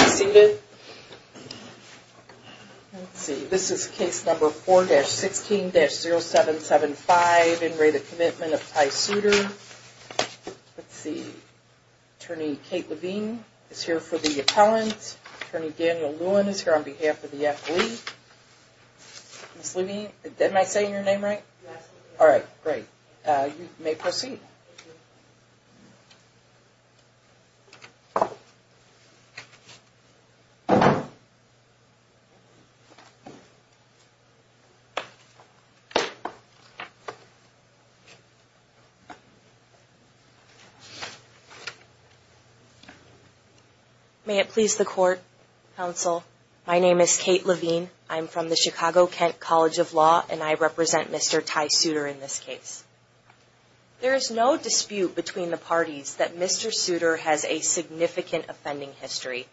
Let's see, this is case number 4-16-0775, in re the Commitment of Tye Suter. Let's see, Attorney Kate Levine is here for the appellant. Attorney Daniel Lewin is here on behalf of the FLE. Ms. Levine, am I saying your name right? Yes. Alright, great. You may proceed. May it please the Court, Counsel, my name is Kate Levine. I'm from the Chicago-Kent College of Law and I represent Mr. Tye Suter in this case. There is no dispute between the parties that Mr. Suter has a significant offending history.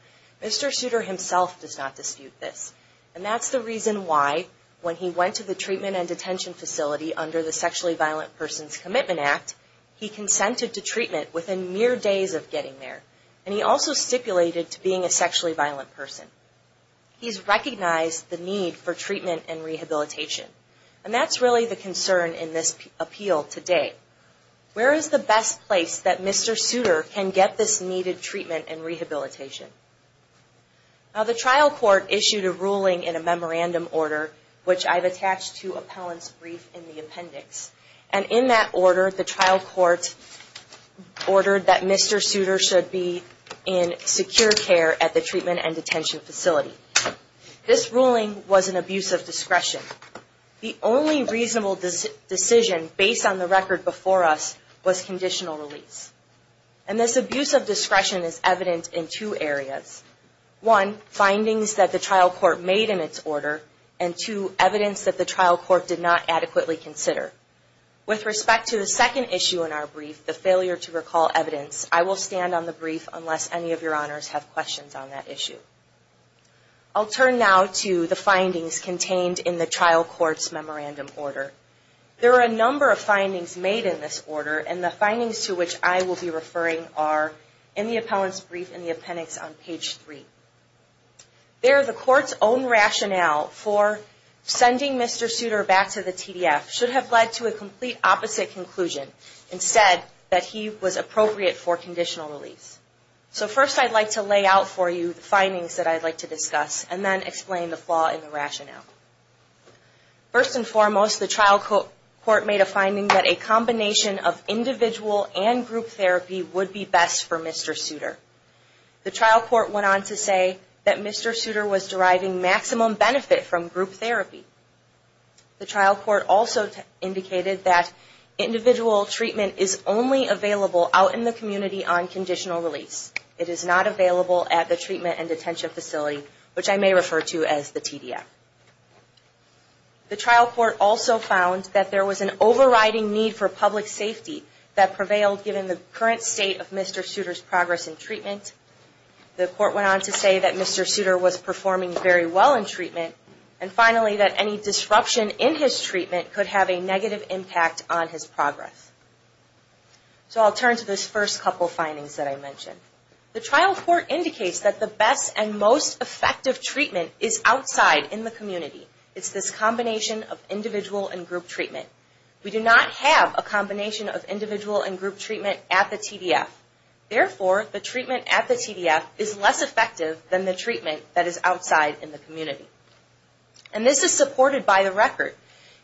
Mr. Suter himself does not dispute this. And that's the reason why, when he went to the treatment and detention facility under the Sexually Violent Persons Commitment Act, he consented to treatment within mere days of getting there. And he also stipulated to being a sexually violent person. He's recognized the need for treatment and rehabilitation. And that's really the concern in this appeal today. Where is the best place that Mr. Suter can get this needed treatment and rehabilitation? Now the trial court issued a ruling in a memorandum order, which I've attached to appellant's brief in the appendix. And in that order, the trial court ordered that Mr. Suter should be in secure care at the treatment and detention facility. This ruling was an abuse of discretion. The only reasonable decision based on the record before us was conditional release. And this abuse of discretion is evident in two areas. One, findings that the trial court made in its order. And two, evidence that the trial court did not adequately consider. With respect to the second issue in our brief, the failure to recall evidence, I will stand on the brief unless any of your honors have questions on that issue. I'll turn now to the findings contained in the trial court's memorandum order. There are a number of findings made in this order, and the findings to which I will be referring are in the appellant's brief in the appendix on page 3. There, the court's own rationale for sending Mr. Suter back to the TDF should have led to a complete opposite conclusion. Instead, that he was appropriate for conditional release. So first, I'd like to lay out for you the findings that I'd like to discuss, and then explain the flaw in the rationale. First and foremost, the trial court made a finding that a combination of individual and group therapy would be best for Mr. Suter. The trial court went on to say that Mr. Suter was deriving maximum benefit from group therapy. The trial court also indicated that individual treatment is only available out in the community on conditional release. It is not available at the treatment and detention facility, which I may refer to as the TDF. The trial court also found that there was an overriding need for public safety that prevailed given the current state of Mr. Suter's progress in treatment. The court went on to say that Mr. Suter was performing very well in treatment, and finally that any disruption in his treatment could have a negative impact on his progress. So I'll turn to those first couple findings that I mentioned. The trial court indicates that the best and most effective treatment is outside in the community. It's this combination of individual and group treatment. We do not have a combination of individual and group treatment at the TDF. Therefore, the treatment at the TDF is less effective than the treatment that is outside in the community. And this is supported by the record.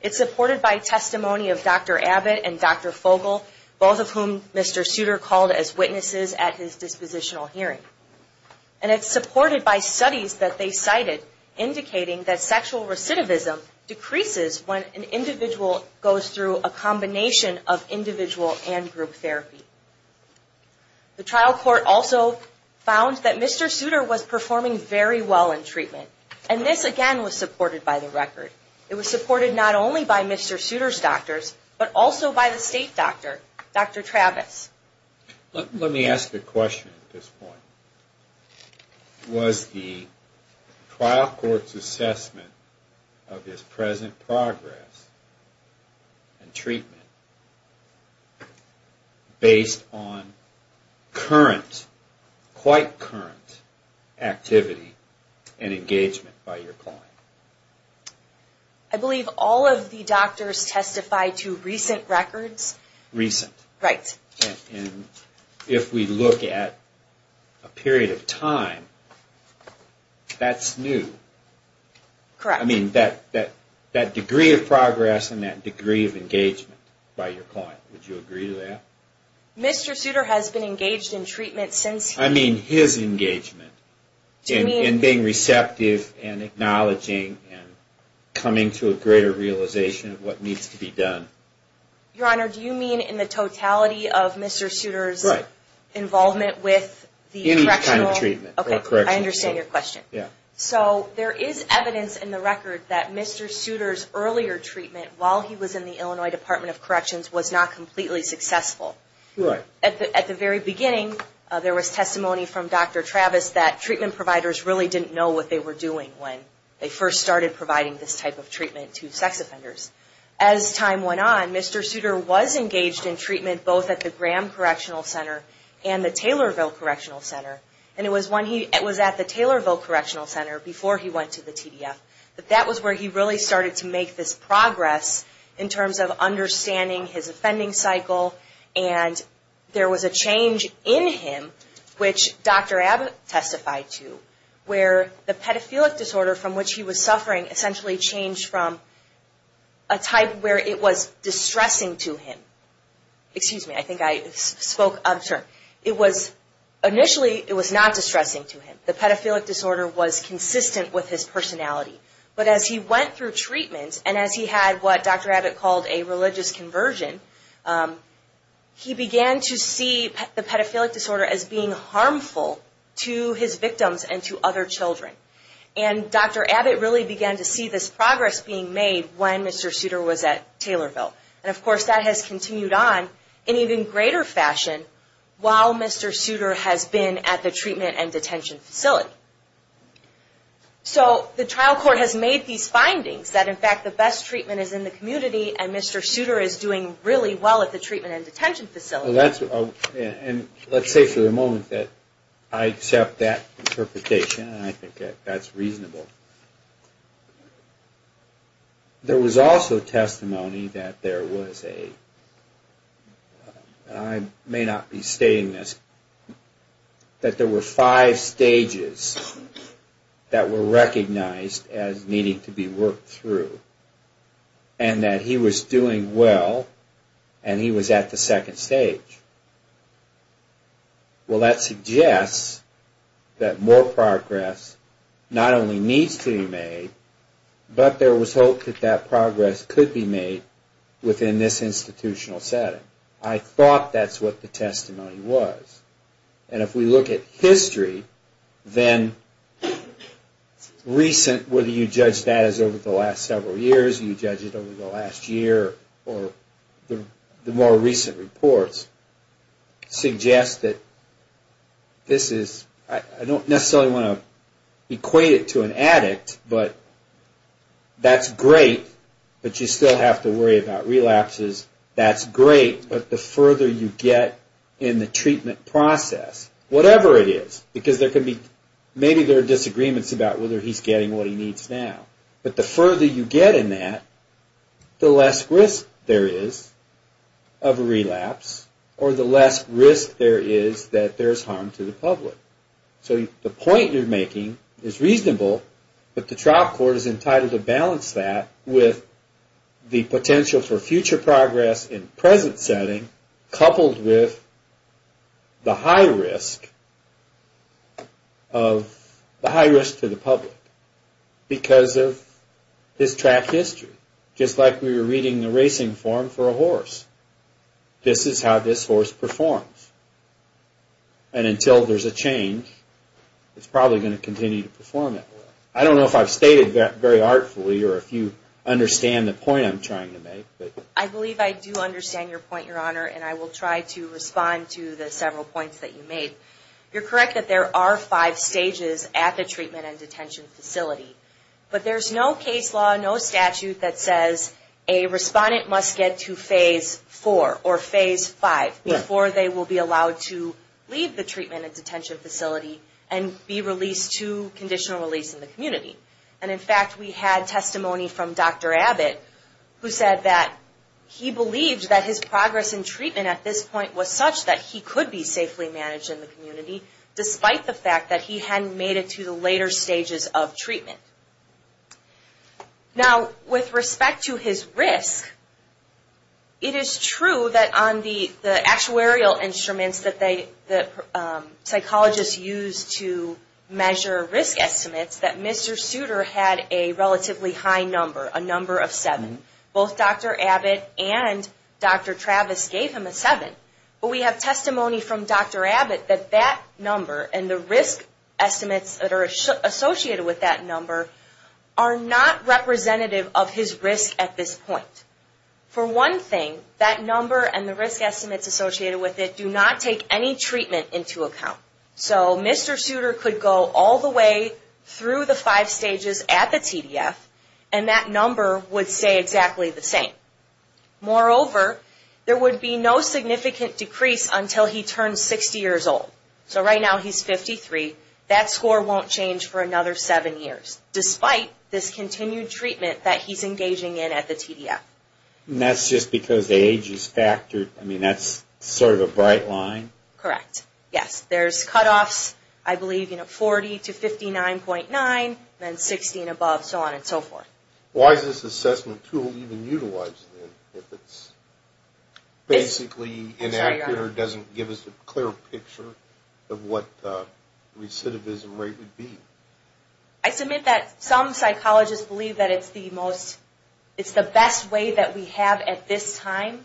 It's supported by testimony of Dr. Abbott and Dr. Fogel, both of whom Mr. Suter called as witnesses at his dispositional hearing. And it's supported by studies that they cited indicating that sexual recidivism decreases when an individual goes through a combination of individual and group therapy. The trial court also found that Mr. Suter was performing very well in treatment. And this again was supported by the record. It was supported not only by Mr. Suter's doctors, but also by the state doctor, Dr. Travis. Let me ask a question at this point. Was the trial court's assessment of his present progress and treatment based on current, quite current activity and engagement by your client? I believe all of the doctors testified to recent records. Recent. Right. And if we look at a period of time, that's new. Correct. I mean, that degree of progress and that degree of engagement by your client, would you agree to that? Mr. Suter has been engaged in treatment since... I mean his engagement. Do you mean... In being receptive and acknowledging and coming to a greater realization of what needs to be done. Your Honor, do you mean in the totality of Mr. Suter's involvement with the correctional... Any kind of treatment. Okay, I understand your question. Yeah. So there is evidence in the record that Mr. Suter's earlier treatment while he was in the Illinois Department of Corrections was not completely successful. Right. At the very beginning, there was testimony from Dr. Travis that treatment providers really didn't know what they were doing when they first started providing this type of treatment to sex offenders. As time went on, Mr. Suter was engaged in treatment both at the Graham Correctional Center and the Taylorville Correctional Center. And it was at the Taylorville Correctional Center before he went to the TDF. That was where he really started to make this progress in terms of understanding his offending cycle. And there was a change in him, which Dr. Abbott testified to, where the pedophilic disorder from which he was suffering essentially changed from a type where it was distressing to him. Excuse me, I think I spoke up. Initially, it was not distressing to him. The pedophilic disorder was consistent with his personality. But as he went through treatment and as he had what Dr. Abbott called a religious conversion, he began to see the pedophilic disorder as being harmful to his victims and to other children. And Dr. Abbott really began to see this progress being made when Mr. Suter was at Taylorville. And, of course, that has continued on in even greater fashion while Mr. Suter has been at the treatment and detention facility. So the trial court has made these findings that, in fact, the best treatment is in the community and Mr. Suter is doing really well at the treatment and detention facility. And let's say for the moment that I accept that interpretation and I think that that's reasonable. There was also testimony that there was a, and I may not be stating this, that there were five stages that were recognized as needing to be worked through and that he was doing well and he was at the second stage. Well, that suggests that more progress not only needs to be made, but there was hope that that progress could be made within this institutional setting. I thought that's what the testimony was. And if we look at history, then recent, whether you judge that as over the last several years, you judge it over the last year, or the more recent reports suggest that this is, I don't necessarily want to equate it to an addict, but that's great, but you still have to worry about relapses. That's great, but the further you get in the treatment process, whatever it is, because there can be, maybe there are disagreements about whether he's getting what he needs now, but the further you get in that, the less risk there is of a relapse, or the less risk there is that there's harm to the public. So the point you're making is reasonable, but the trial court is entitled to balance that with the potential for future progress in the present setting, coupled with the high risk to the public because of his track history. Just like we were reading the racing form for a horse. This is how this horse performs. And until there's a change, it's probably going to continue to perform that way. I don't know if I've stated that very artfully, or if you understand the point I'm trying to make. I believe I do understand your point, Your Honor, and I will try to respond to the several points that you made. You're correct that there are five stages at the treatment and detention facility. But there's no case law, no statute that says a respondent must get to phase four or phase five before they will be allowed to leave the treatment and detention facility and be released to conditional release in the community. And in fact, we had testimony from Dr. Abbott, who said that he believed that his progress in treatment at this point was such that he could be safely managed in the community, despite the fact that he hadn't made it to the later stages of treatment. Now, with respect to his risk, it is true that on the actuarial instruments that psychologists use to measure risk estimates, that Mr. Souter had a relatively high number, a number of seven. Both Dr. Abbott and Dr. Travis gave him a seven. But we have testimony from Dr. Abbott that that number and the risk estimates that are associated with that number are not representative of his risk at this point. For one thing, that number and the risk estimates associated with it do not take any treatment into account. So Mr. Souter could go all the way through the five stages at the TDF, and that number would stay exactly the same. Moreover, there would be no significant decrease until he turns 60 years old. So right now he's 53. That score won't change for another seven years, despite this continued treatment that he's engaging in at the TDF. And that's just because the age is factored? I mean, that's sort of a bright line? Correct. Yes. There's cutoffs, I believe, you know, 40 to 59.9, then 60 and above, so on and so forth. Why is this assessment tool even utilized, then, if it's basically inaccurate or doesn't give us a clear picture of what the recidivism rate would be? I submit that some psychologists believe that it's the best way that we have at this time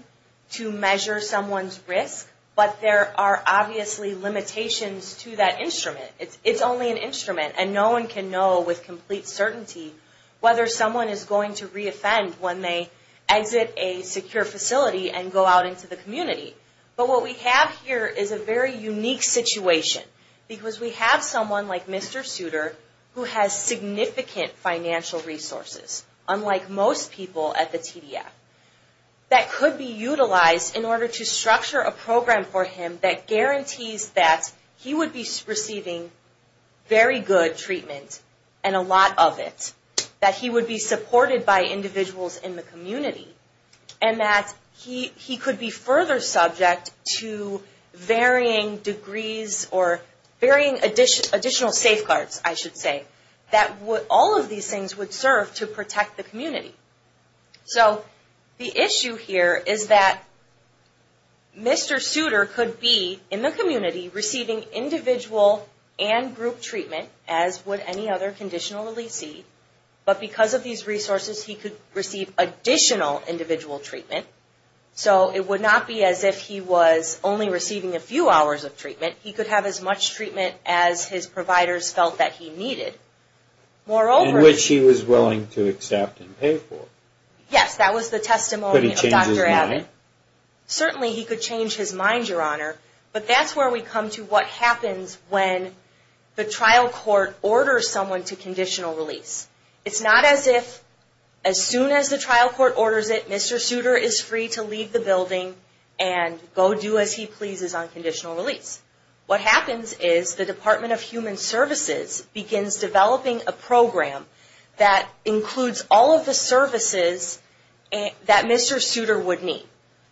to measure someone's risk, but there are obviously limitations to that instrument. It's only an instrument, and no one can know with complete certainty whether someone is going to re-offend when they exit a secure facility and go out into the community. But what we have here is a very unique situation, because we have someone like Mr. Suter, who has significant financial resources, unlike most people at the TDF, that could be utilized in order to structure a program for him that guarantees that he would be receiving very good treatment and a lot of it, that he would be supported by individuals in the community, and that he could be further subject to varying degrees or varying additional safeguards, I should say, that all of these things would serve to protect the community. So the issue here is that Mr. Suter could be, in the community, receiving individual and group treatment, as would any other conditional release seed, but because of these resources, he could receive additional individual treatment. So it would not be as if he was only receiving a few hours of treatment. He could have as much treatment as his providers felt that he needed. In which he was willing to accept and pay for. Yes, that was the testimony of Dr. Abbott. Could he change his mind? Certainly he could change his mind, Your Honor. But that's where we come to what happens when the trial court orders someone to conditional release. It's not as if, as soon as the trial court orders it, Mr. Suter is free to leave the building and go do as he pleases on conditional release. What happens is the Department of Human Services begins developing a program that includes all of the services that Mr. Suter would need.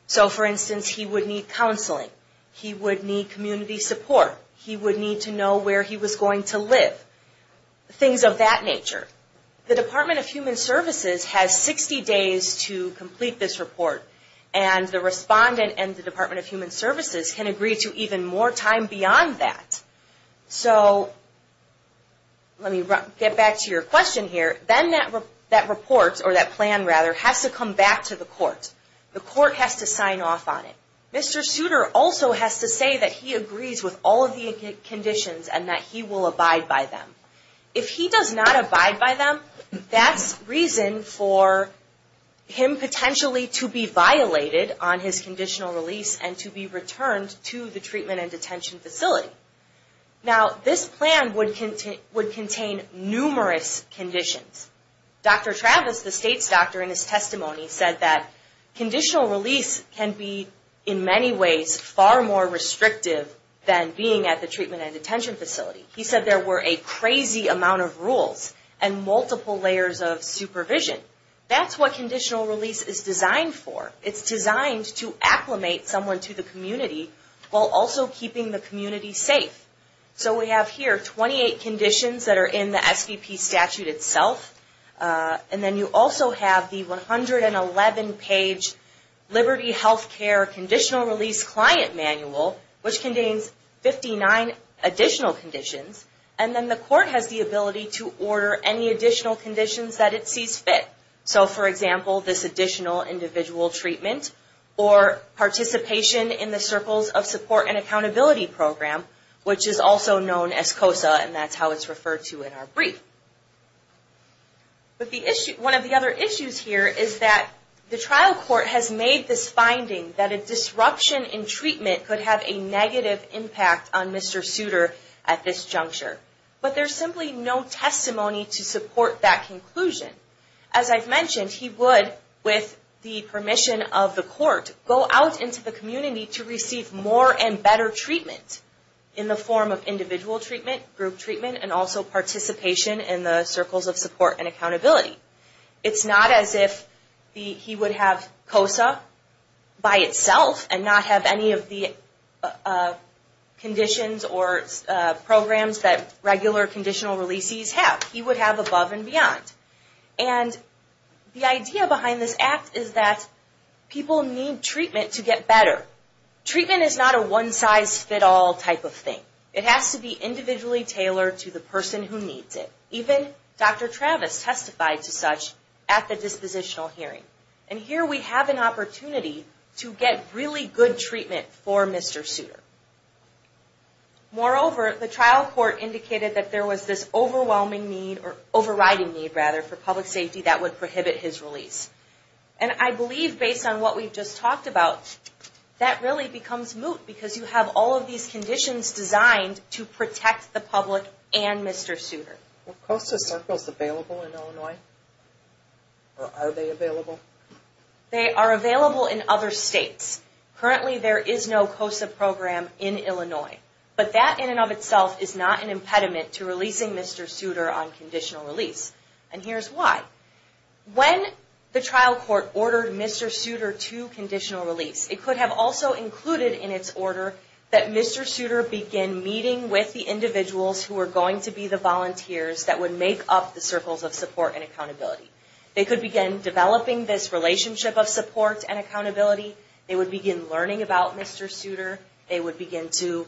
So, for instance, he would need counseling. He would need community support. He would need to know where he was going to live. Things of that nature. The Department of Human Services has 60 days to complete this report. And the respondent and the Department of Human Services can agree to even more time beyond that. So, let me get back to your question here. Then that report, or that plan rather, has to come back to the court. The court has to sign off on it. Mr. Suter also has to say that he agrees with all of the conditions and that he will abide by them. If he does not abide by them, that's reason for him potentially to be violated on his conditional release and to be returned to the treatment and detention facility. Now, this plan would contain numerous conditions. Dr. Travis, the state's doctor in his testimony, said that conditional release can be, in many ways, far more restrictive than being at the treatment and detention facility. He said there were a crazy amount of rules and multiple layers of supervision. That's what conditional release is designed for. It's designed to acclimate someone to the community while also keeping the community safe. So, we have here 28 conditions that are in the SVP statute itself. And then you also have the 111-page Liberty Health Care Conditional Release Client Manual, which contains 59 additional conditions. And then the court has the ability to order any additional conditions that it sees fit. So, for example, this additional individual treatment or participation in the Circles of Support and Accountability Program, which is also known as COSA. And that's how it's referred to in our brief. But one of the other issues here is that the trial court has made this finding that a disruption in treatment could have a negative impact on Mr. Souter at this juncture. But there's simply no testimony to support that conclusion. As I've mentioned, he would, with the permission of the court, go out into the community to receive more and better treatment in the form of individual treatment, group treatment, and also participation in the Circles of Support and Accountability. It's not as if he would have COSA by itself and not have any of the conditions or programs that regular conditional releasees have. He would have above and beyond. And the idea behind this act is that people need treatment to get better. Treatment is not a one-size-fit-all type of thing. It has to be individually tailored to the person who needs it. Even Dr. Travis testified to such at the dispositional hearing. And here we have an opportunity to get really good treatment for Mr. Souter. Moreover, the trial court indicated that there was this overwhelming need, or overriding need, rather, for public safety that would prohibit his release. And I believe, based on what we've just talked about, that really becomes moot because you have all of these conditions designed to protect the public and Mr. Souter. Are COSA circles available in Illinois? Or are they available? They are available in other states. Currently, there is no COSA program in Illinois. But that in and of itself is not an impediment to releasing Mr. Souter on conditional release. And here's why. When the trial court ordered Mr. Souter to conditional release, it could have also included in its order that Mr. Souter begin meeting with the individuals who are going to be the volunteers that would make up the circles of support and accountability. They could begin developing this relationship of support and accountability. They would begin learning about Mr. Souter. They would begin to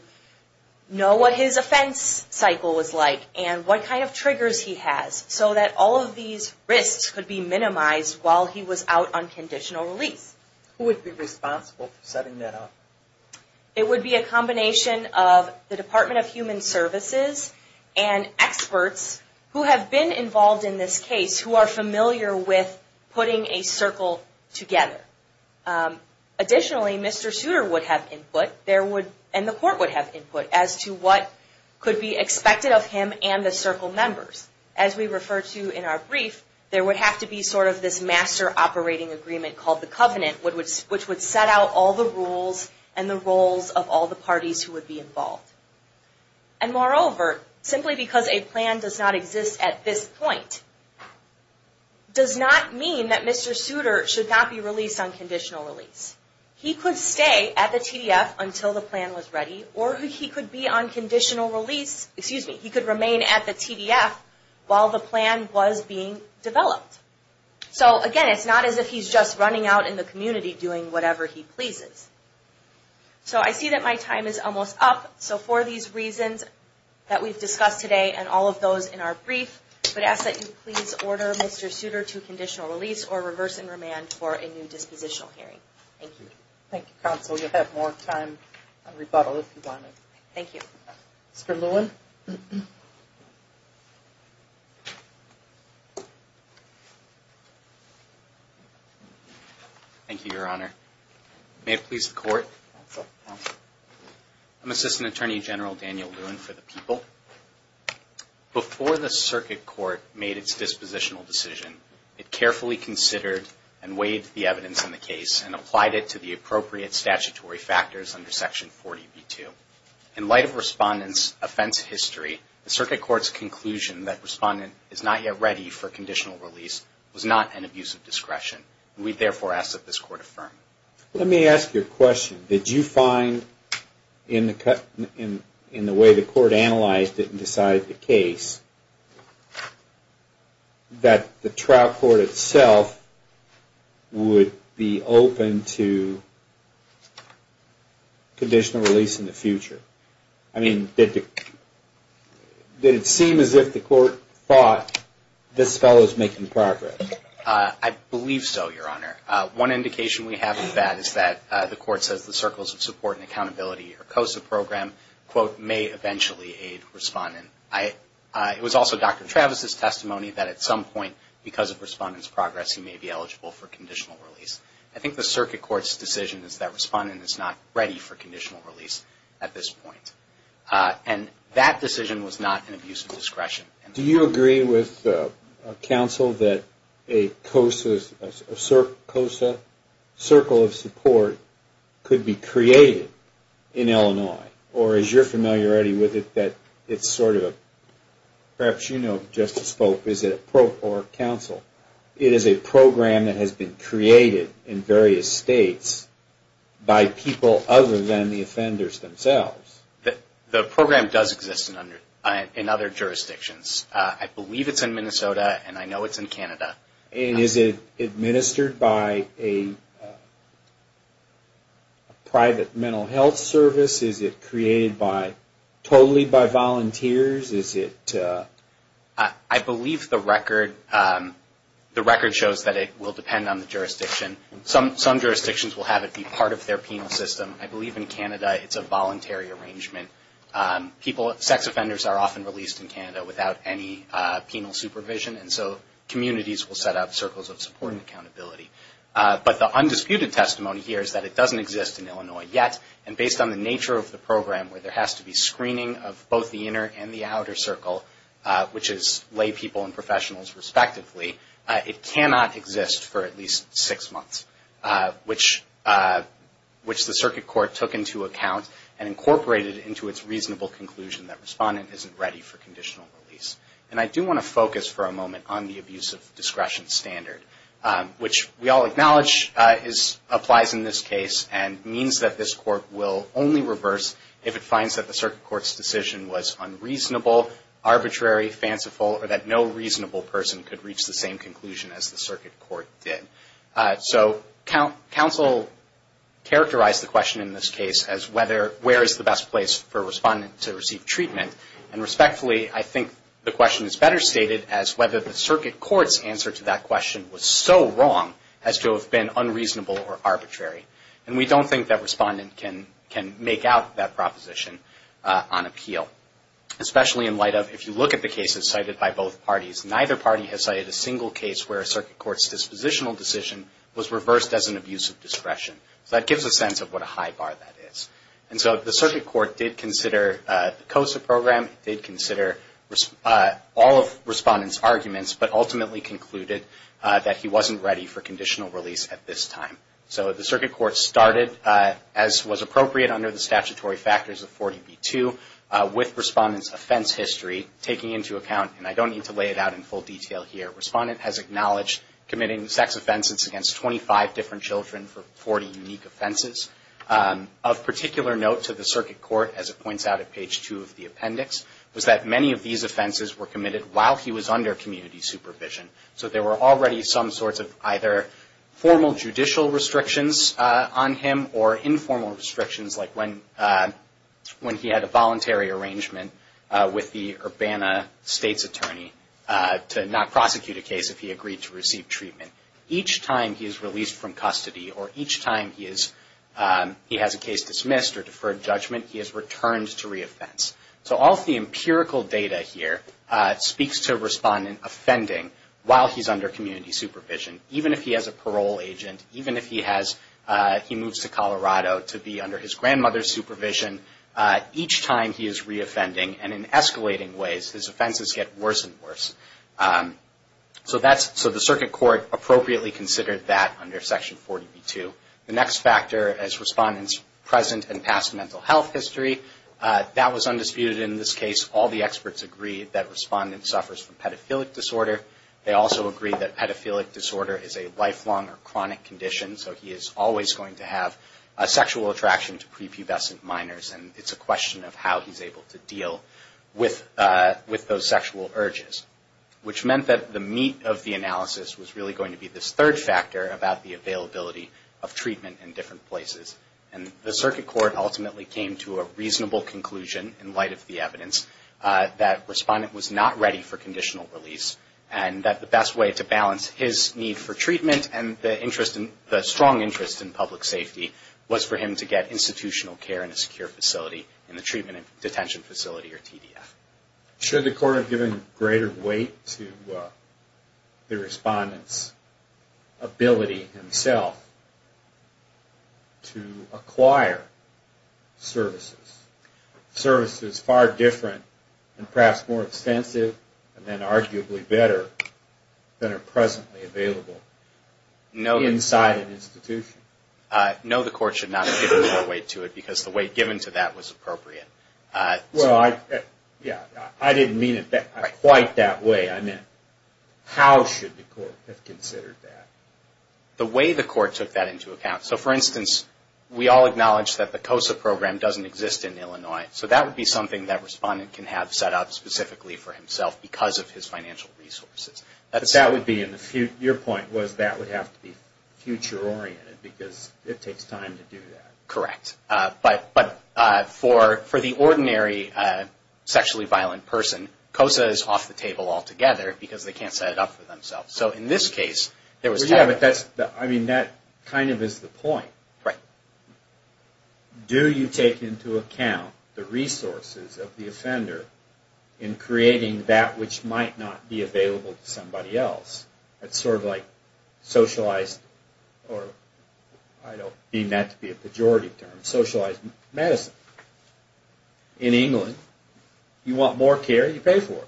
know what his offense cycle was like and what kind of triggers he has, so that all of these risks could be minimized while he was out on conditional release. Who would be responsible for setting that up? It would be a combination of the Department of Human Services and experts who have been involved in this case, who are familiar with putting a circle together. Additionally, Mr. Souter would have input, and the court would have input, as to what could be expected of him and the circle members. As we refer to in our brief, there would have to be sort of this master operating agreement called the covenant, which would set out all the rules and the roles of all the parties who would be involved. Moreover, simply because a plan does not exist at this point, does not mean that Mr. Souter should not be released on conditional release. He could stay at the TDF until the plan was ready, or he could remain at the TDF while the plan was being developed. Again, it's not as if he's just running out in the community doing whatever he pleases. So I see that my time is almost up. So for these reasons that we've discussed today and all of those in our brief, I would ask that you please order Mr. Souter to conditional release or reverse and remand for a new dispositional hearing. Thank you. Thank you, counsel. You'll have more time on rebuttal if you want to. Thank you. Mr. Lewin. Thank you, Your Honor. May it please the Court. Counsel. Counsel. I'm Assistant Attorney General Daniel Lewin for the People. Before the Circuit Court made its dispositional decision, it carefully considered and weighed the evidence in the case and applied it to the appropriate statutory factors under Section 40B2. In light of Respondent's offense history, the Circuit Court's conclusion that Respondent is not yet ready for conditional release was not an abuse of discretion. We therefore ask that this Court affirm. Let me ask you a question. Did you find, in the way the Court analyzed it and decided the case, that the trial court itself would be open to conditional release in the future? I mean, did it seem as if the Court thought this fellow is making progress? I believe so, Your Honor. One indication we have of that is that the Court says the Circles of Support and Accountability or COSA program, quote, may eventually aid Respondent. It was also Dr. Travis' testimony that at some point, because of Respondent's progress, he may be eligible for conditional release. I think the Circuit Court's decision is that Respondent is not ready for conditional release at this point. And that decision was not an abuse of discretion. Do you agree with counsel that a COSA Circle of Support could be created in Illinois? Or is your familiarity with it that it's sort of a, perhaps you know Justice Pope, is it a pro or counsel? It is a program that has been created in various states by people other than the offenders themselves. The program does exist in other jurisdictions. I believe it's in Minnesota, and I know it's in Canada. And is it administered by a private mental health service? Is it created totally by volunteers? I believe the record shows that it will depend on the jurisdiction. Some jurisdictions will have it be part of their penal system. I believe in Canada it's a voluntary arrangement. Sex offenders are often released in Canada without any penal supervision. And so communities will set up Circles of Support and Accountability. But the undisputed testimony here is that it doesn't exist in Illinois yet. And based on the nature of the program, where there has to be screening of both the inner and the outer Circle, which is lay people and professionals respectively, it cannot exist for at least six months, which the circuit court took into account and incorporated into its reasonable conclusion that respondent isn't ready for conditional release. And I do want to focus for a moment on the abusive discretion standard, which we all acknowledge applies in this case and means that this court will only reverse if it finds that the circuit court's decision was unreasonable, arbitrary, fanciful, or that no reasonable person could reach the same conclusion as the circuit court did. So counsel characterized the question in this case as whether where is the best place for a respondent to receive treatment. And respectfully, I think the question is better stated as whether the circuit court's answer to that question was so wrong as to have been unreasonable or arbitrary. And we don't think that respondent can make out that proposition on appeal, especially in light of if you look at the cases cited by both parties. Neither party has cited a single case where a circuit court's dispositional decision was reversed as an abusive discretion. So that gives a sense of what a high bar that is. And so the circuit court did consider the COSA program, did consider all of respondent's arguments, but ultimately concluded that he wasn't ready for conditional release at this time. So the circuit court started, as was appropriate under the statutory factors of 40B2, with respondent's offense history taken into account. And I don't need to lay it out in full detail here. Respondent has acknowledged committing sex offenses against 25 different children for 40 unique offenses. Of particular note to the circuit court, as it points out at page 2 of the appendix, was that many of these offenses were committed while he was under community supervision. So there were already some sorts of either formal judicial restrictions on him or informal restrictions like when he had a voluntary arrangement with the Urbana state's attorney to not prosecute a case if he agreed to receive treatment. Each time he is released from custody or each time he has a case dismissed or deferred judgment, he is returned to re-offense. So all of the empirical data here speaks to respondent offending while he's under community supervision. Even if he has a parole agent, even if he moves to Colorado to be under his grandmother's supervision, each time he is re-offending. And in escalating ways, his offenses get worse and worse. So the circuit court appropriately considered that under section 40B2. The next factor is respondent's present and past mental health history. That was undisputed in this case. All the experts agreed that respondent suffers from pedophilic disorder. They also agreed that pedophilic disorder is a lifelong or chronic condition. So he is always going to have a sexual attraction to prepubescent minors. And it's a question of how he's able to deal with those sexual urges. Which meant that the meat of the analysis was really going to be this third factor about the availability of treatment in different places. And the circuit court ultimately came to a reasonable conclusion in light of the evidence that respondent was not ready for conditional release. And that the best way to balance his need for treatment and the strong interest in public safety was for him to get institutional care in a secure facility in the treatment and detention facility or TDF. Should the court have given greater weight to the respondent's ability himself to acquire services? Services far different and perhaps more extensive and then arguably better than are presently available inside an institution? No, the court should not have given more weight to it because the weight given to that was appropriate. Well, I didn't mean it quite that way. I meant how should the court have considered that? The way the court took that into account. So for instance, we all acknowledge that the COSA program doesn't exist in Illinois. So that would be something that respondent can have set up specifically for himself because of his financial resources. But that would be in the future. Your point was that would have to be future oriented because it takes time to do that. Correct. But for the ordinary sexually violent person, COSA is off the table altogether because they can't set it up for themselves. That kind of is the point. Right. Do you take into account the resources of the offender in creating that which might not be available to somebody else? It's sort of like socialized, or I don't mean that to be a pejorative term, socialized medicine. In England, you want more care, you pay for it.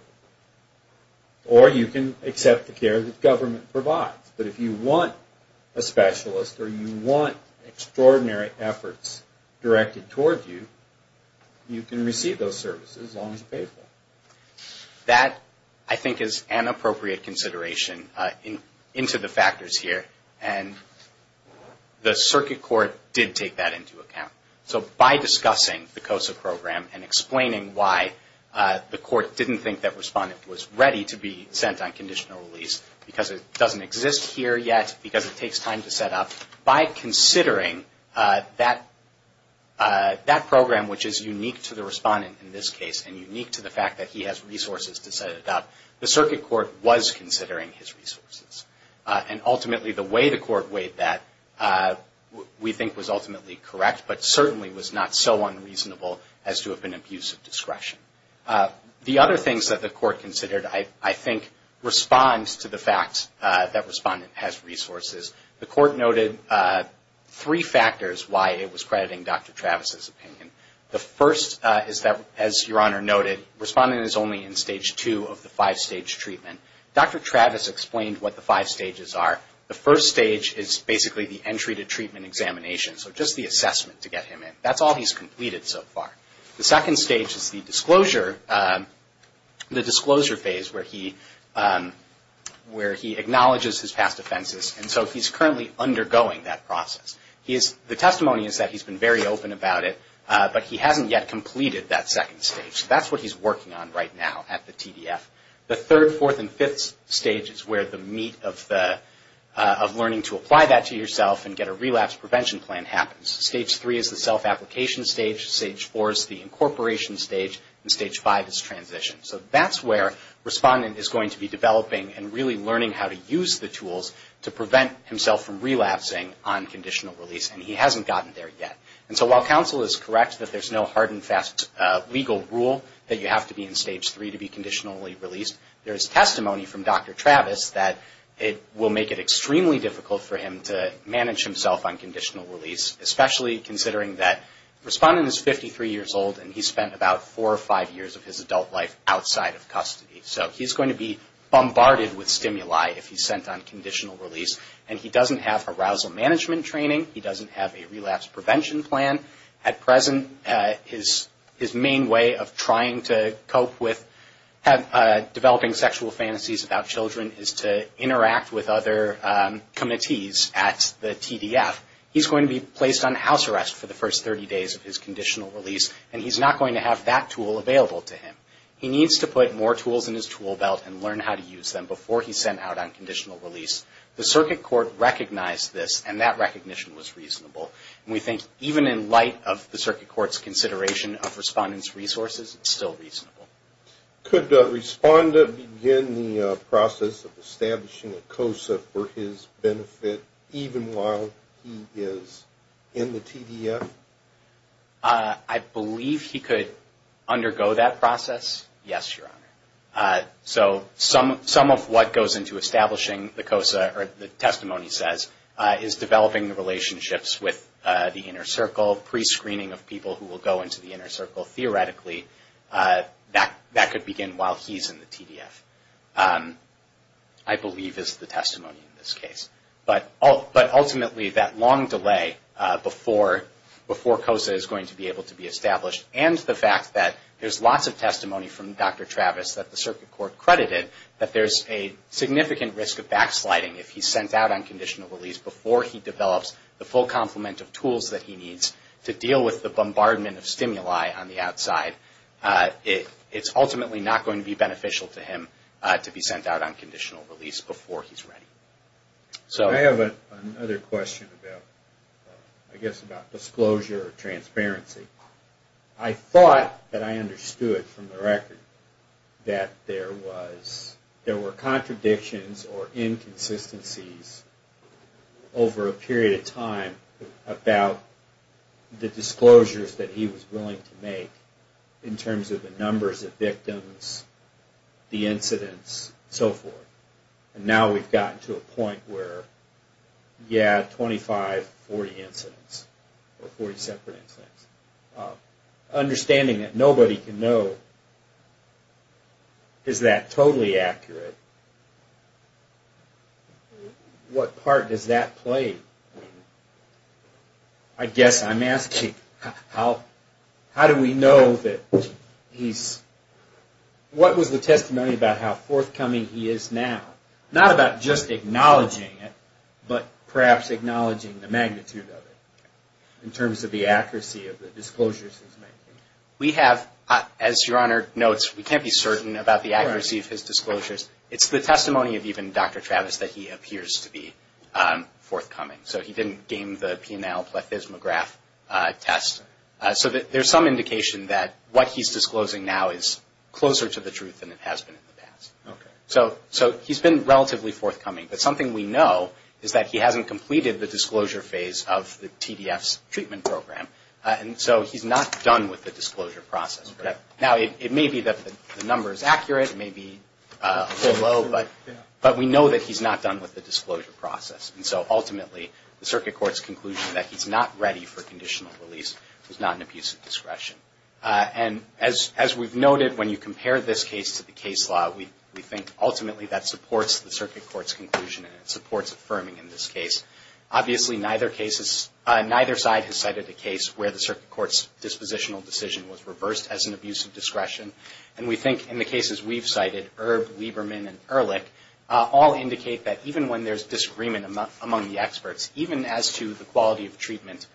Or you can accept the care that government provides. But if you want a specialist or you want extraordinary efforts directed towards you, you can receive those services as long as you pay for them. That, I think, is an appropriate consideration into the factors here. And the circuit court did take that into account. So by discussing the COSA program and explaining why the court didn't think that respondent was ready to be sent on conditional release because it doesn't exist here yet, because it takes time to set up, by considering that program, which is unique to the respondent in this case and unique to the fact that he has resources to set it up, And ultimately, the way the court weighed that, we think, was ultimately correct, but certainly was not so unreasonable as to have been abuse of discretion. The other things that the court considered, I think, responds to the fact that respondent has resources. The court noted three factors why it was crediting Dr. Travis's opinion. The first is that, as Your Honor noted, respondent is only in stage two of the five-stage treatment. Dr. Travis explained what the five stages are. The first stage is basically the entry to treatment examination, so just the assessment to get him in. That's all he's completed so far. The second stage is the disclosure phase where he acknowledges his past offenses, and so he's currently undergoing that process. The testimony is that he's been very open about it, but he hasn't yet completed that second stage. That's what he's working on right now at the TDF. The third, fourth, and fifth stage is where the meat of learning to apply that to yourself and get a relapse prevention plan happens. Stage three is the self-application stage. Stage four is the incorporation stage. And stage five is transition. So that's where respondent is going to be developing and really learning how to use the tools to prevent himself from relapsing on conditional release, and he hasn't gotten there yet. And so while counsel is correct that there's no hard and fast legal rule that you have to be in stage three to be conditionally released, there is testimony from Dr. Travis that it will make it extremely difficult for him to manage himself on conditional release, especially considering that the respondent is 53 years old and he spent about four or five years of his adult life outside of custody. So he's going to be bombarded with stimuli if he's sent on conditional release, and he doesn't have arousal management training. He doesn't have a relapse prevention plan. At present, his main way of trying to cope with developing sexual fantasies about children is to interact with other committees at the TDF. He's going to be placed on house arrest for the first 30 days of his conditional release, and he's not going to have that tool available to him. He needs to put more tools in his tool belt and learn how to use them before he's sent out on conditional release. The circuit court recognized this, and that recognition was reasonable. We think even in light of the circuit court's consideration of respondent's resources, it's still reasonable. Could a respondent begin the process of establishing a COSA for his benefit even while he is in the TDF? I believe he could undergo that process, yes, Your Honor. So some of what goes into establishing the COSA, or the testimony says, is developing the relationships with the inner circle, pre-screening of people who will go into the inner circle. Theoretically, that could begin while he's in the TDF, I believe is the testimony in this case. But ultimately, that long delay before COSA is going to be able to be established, and the fact that there's lots of testimony from Dr. Travis that the circuit court credited, that there's a significant risk of backsliding if he's sent out on conditional release before he develops the full complement of tools that he needs to deal with the bombardment of stimuli on the outside. It's ultimately not going to be beneficial to him to be sent out on conditional release before he's ready. I have another question about disclosure or transparency. I thought that I understood from the record that there were contradictions or inconsistencies over a period of time about the disclosures that he was willing to make in terms of the numbers of victims, the incidents, and so forth. And now we've gotten to a point where, yeah, 25, 40 incidents, or 40 separate incidents. Understanding that nobody can know, is that totally accurate? What part does that play? I guess I'm asking, how do we know that he's, what was the testimony about how forthcoming he is now? Not about just acknowledging it, but perhaps acknowledging the magnitude of it, in terms of the accuracy of the disclosures he's making. We have, as Your Honor notes, we can't be certain about the accuracy of his disclosures. It's the testimony of even Dr. Travis that he appears to be forthcoming. So he didn't gain the PNL plethysmograph test. So there's some indication that what he's disclosing now is closer to the truth than it has been in the past. So he's been relatively forthcoming. But something we know is that he hasn't completed the disclosure phase of the TDF's treatment program. And so he's not done with the disclosure process. Now, it may be that the number is accurate, it may be a little low, but we know that he's not done with the disclosure process. And so ultimately, the circuit court's conclusion that he's not ready for conditional release is not an abuse of discretion. And as we've noted, when you compare this case to the case law, we think ultimately that supports the circuit court's conclusion and it supports affirming in this case. Obviously, neither side has cited a case where the circuit court's dispositional decision was reversed as an abuse of discretion. And we think in the cases we've cited, Erb, Lieberman, and Ehrlich all indicate that even when there's disagreement among the experts, even as to the quality of treatment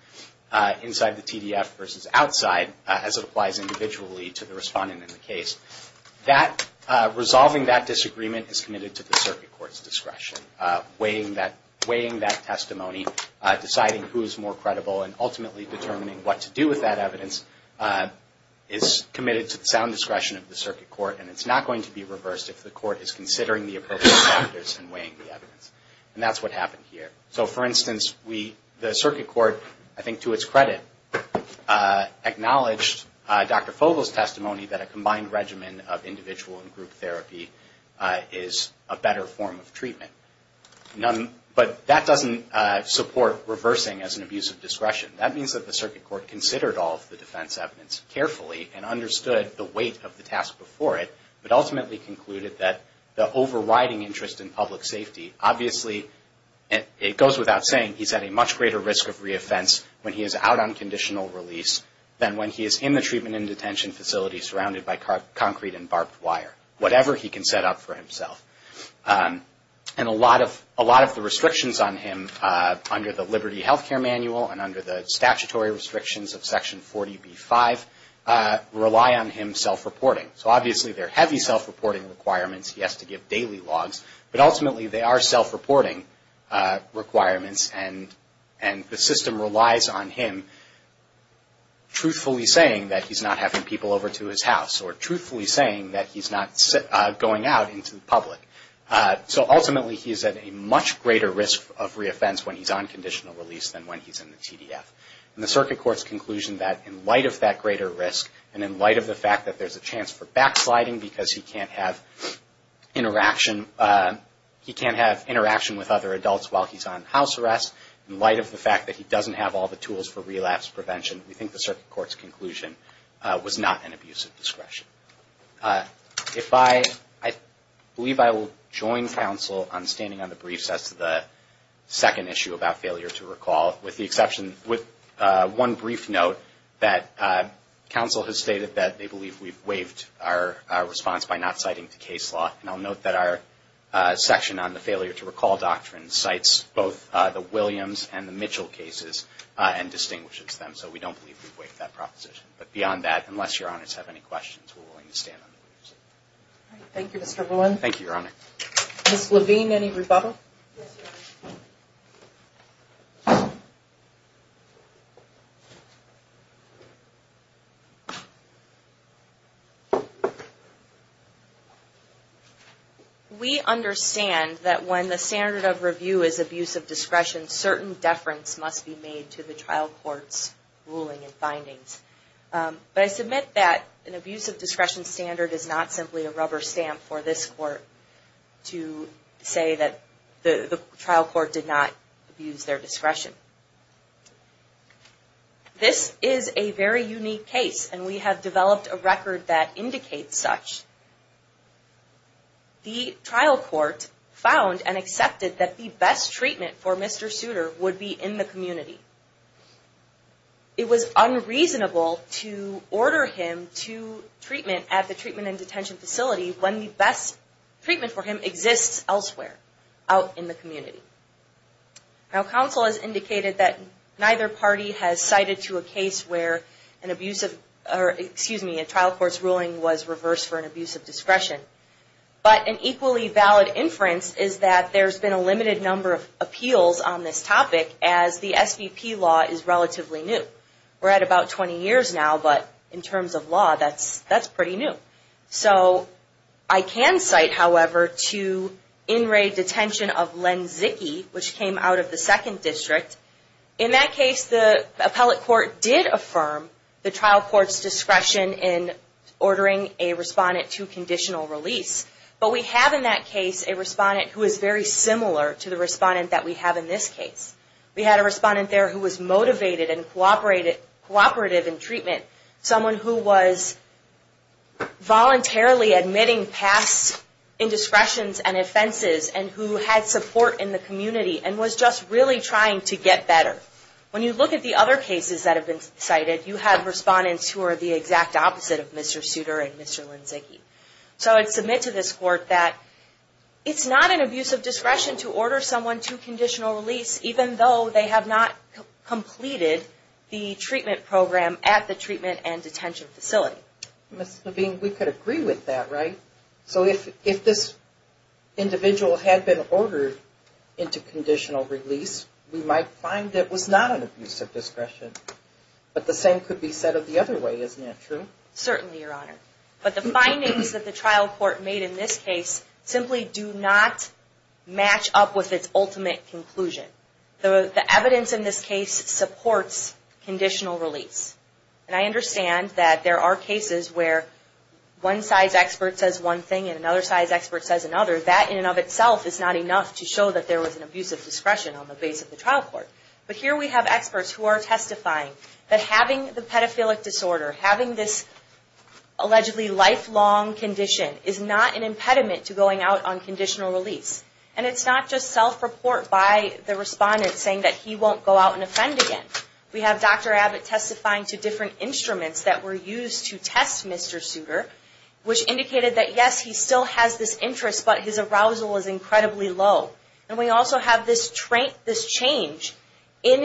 inside the TDF versus outside, as it applies individually to the respondent in the case, resolving that disagreement is committed to the circuit court's discretion, and weighing that testimony, deciding who is more credible, and ultimately determining what to do with that evidence is committed to the sound discretion of the circuit court. And it's not going to be reversed if the court is considering the appropriate factors and weighing the evidence. And that's what happened here. So, for instance, the circuit court, I think to its credit, acknowledged Dr. Fogle's testimony that a combined regimen of individual and group therapy is a better form of treatment. But that doesn't support reversing as an abuse of discretion. That means that the circuit court considered all of the defense evidence carefully and understood the weight of the task before it, but ultimately concluded that the overriding interest in public safety, obviously it goes without saying he's at a much greater risk of reoffense when he is out on conditional release than when he is in the treatment and detention facility surrounded by concrete and barbed wire, whatever he can set up for himself. And a lot of the restrictions on him under the Liberty Healthcare Manual and under the statutory restrictions of Section 40B-5 rely on him self-reporting. So, obviously, there are heavy self-reporting requirements. He has to give daily logs. But ultimately, they are self-reporting requirements, and the system relies on him truthfully saying that he's not having people over to his house or truthfully saying that he's not going out into the public. So, ultimately, he's at a much greater risk of reoffense when he's on conditional release than when he's in the TDF. And the circuit court's conclusion that in light of that greater risk and in light of the fact that there's a chance for backsliding because he can't have interaction, he can't have interaction with other adults while he's on house arrest, in light of the fact that he doesn't have all the tools for relapse prevention, we think the circuit court's conclusion was not an abuse of discretion. I believe I will join counsel on standing on the briefs as to the second issue about failure to recall, with one brief note that counsel has stated that they believe we've waived our response by not citing the case law. And I'll note that our section on the failure to recall doctrine cites both the Williams and the Mitchell cases and distinguishes them, so we don't believe we've waived that proposition. But beyond that, unless Your Honors have any questions, we're willing to stand on the briefs. Thank you, Mr. Lewin. Thank you, Your Honor. Ms. Levine, any rebuttal? Yes, Your Honor. We understand that when the standard of review is abuse of discretion, certain deference must be made to the trial court's ruling and findings. But I submit that an abuse of discretion standard is not simply a rubber stamp for this court to say that the trial court did not abuse their discretion. This is a very unique case, and we have developed a record that indicates such. The trial court found and accepted that the best treatment for Mr. Souter would be in the community. It was unreasonable to order him to treatment at the treatment and detention facility when the best treatment for him exists elsewhere out in the community. Now, counsel has indicated that neither party has cited to a case where an abusive, or excuse me, a trial court's ruling was reversed for an abuse of discretion. But an equally valid inference is that there's been a limited number of appeals on this topic as the SVP law is relatively new. We're at about 20 years now, but in terms of law, that's pretty new. So I can cite, however, to in-rate detention of Len Zicke, which came out of the Second District. In that case, the appellate court did affirm the trial court's discretion in ordering a respondent to conditional release, but we have in that case a respondent who is very similar to the respondent that we have in this case. We had a respondent there who was motivated and cooperative in treatment, someone who was voluntarily admitting past indiscretions and offenses and who had support in the community and was just really trying to get better. When you look at the other cases that have been cited, you have respondents who are the exact opposite of Mr. Souter and Mr. Len Zicke. So I'd submit to this court that it's not an abuse of discretion to order someone to conditional release even though they have not completed the treatment program at the treatment and detention facility. Ms. Levine, we could agree with that, right? So if this individual had been ordered into conditional release, we might find that was not an abuse of discretion. But the same could be said of the other way, isn't that true? Certainly, Your Honor. But the findings that the trial court made in this case simply do not match up with its ultimate conclusion. The evidence in this case supports conditional release. And I understand that there are cases where one size expert says one thing and another size expert says another. That in and of itself is not enough to show that there was an abuse of discretion on the base of the trial court. But here we have experts who are testifying that having the pedophilic disorder, having this allegedly lifelong condition, is not an impediment to going out on conditional release. And it's not just self-report by the respondent saying that he won't go out and offend again. We have Dr. Abbott testifying to different instruments that were used to test Mr. Souter, which indicated that, yes, he still has this interest, but his arousal is incredibly low. And we also have this change in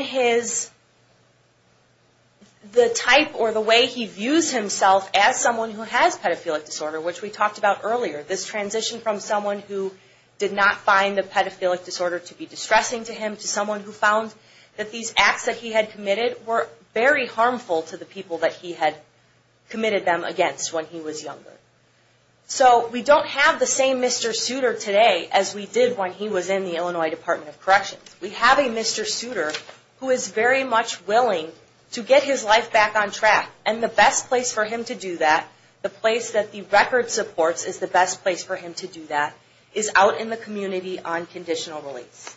the type or the way he views himself as someone who has pedophilic disorder, which we talked about earlier. This transition from someone who did not find the pedophilic disorder to be distressing to him to someone who found that these acts that he had committed were very harmful to the people that he had committed them against when he was younger. So we don't have the same Mr. Souter today as we did when he was in the Illinois Department of Corrections. We have a Mr. Souter who is very much willing to get his life back on track. And the best place for him to do that, the place that the record supports is the best place for him to do that, is out in the community on conditional release.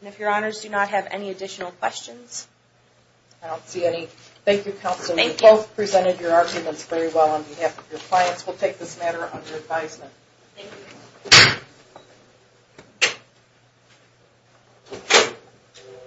And if your honors do not have any additional questions. I don't see any. Thank you, counsel. You both presented your arguments very well on behalf of your clients. We'll take this matter under advisement. Thank you.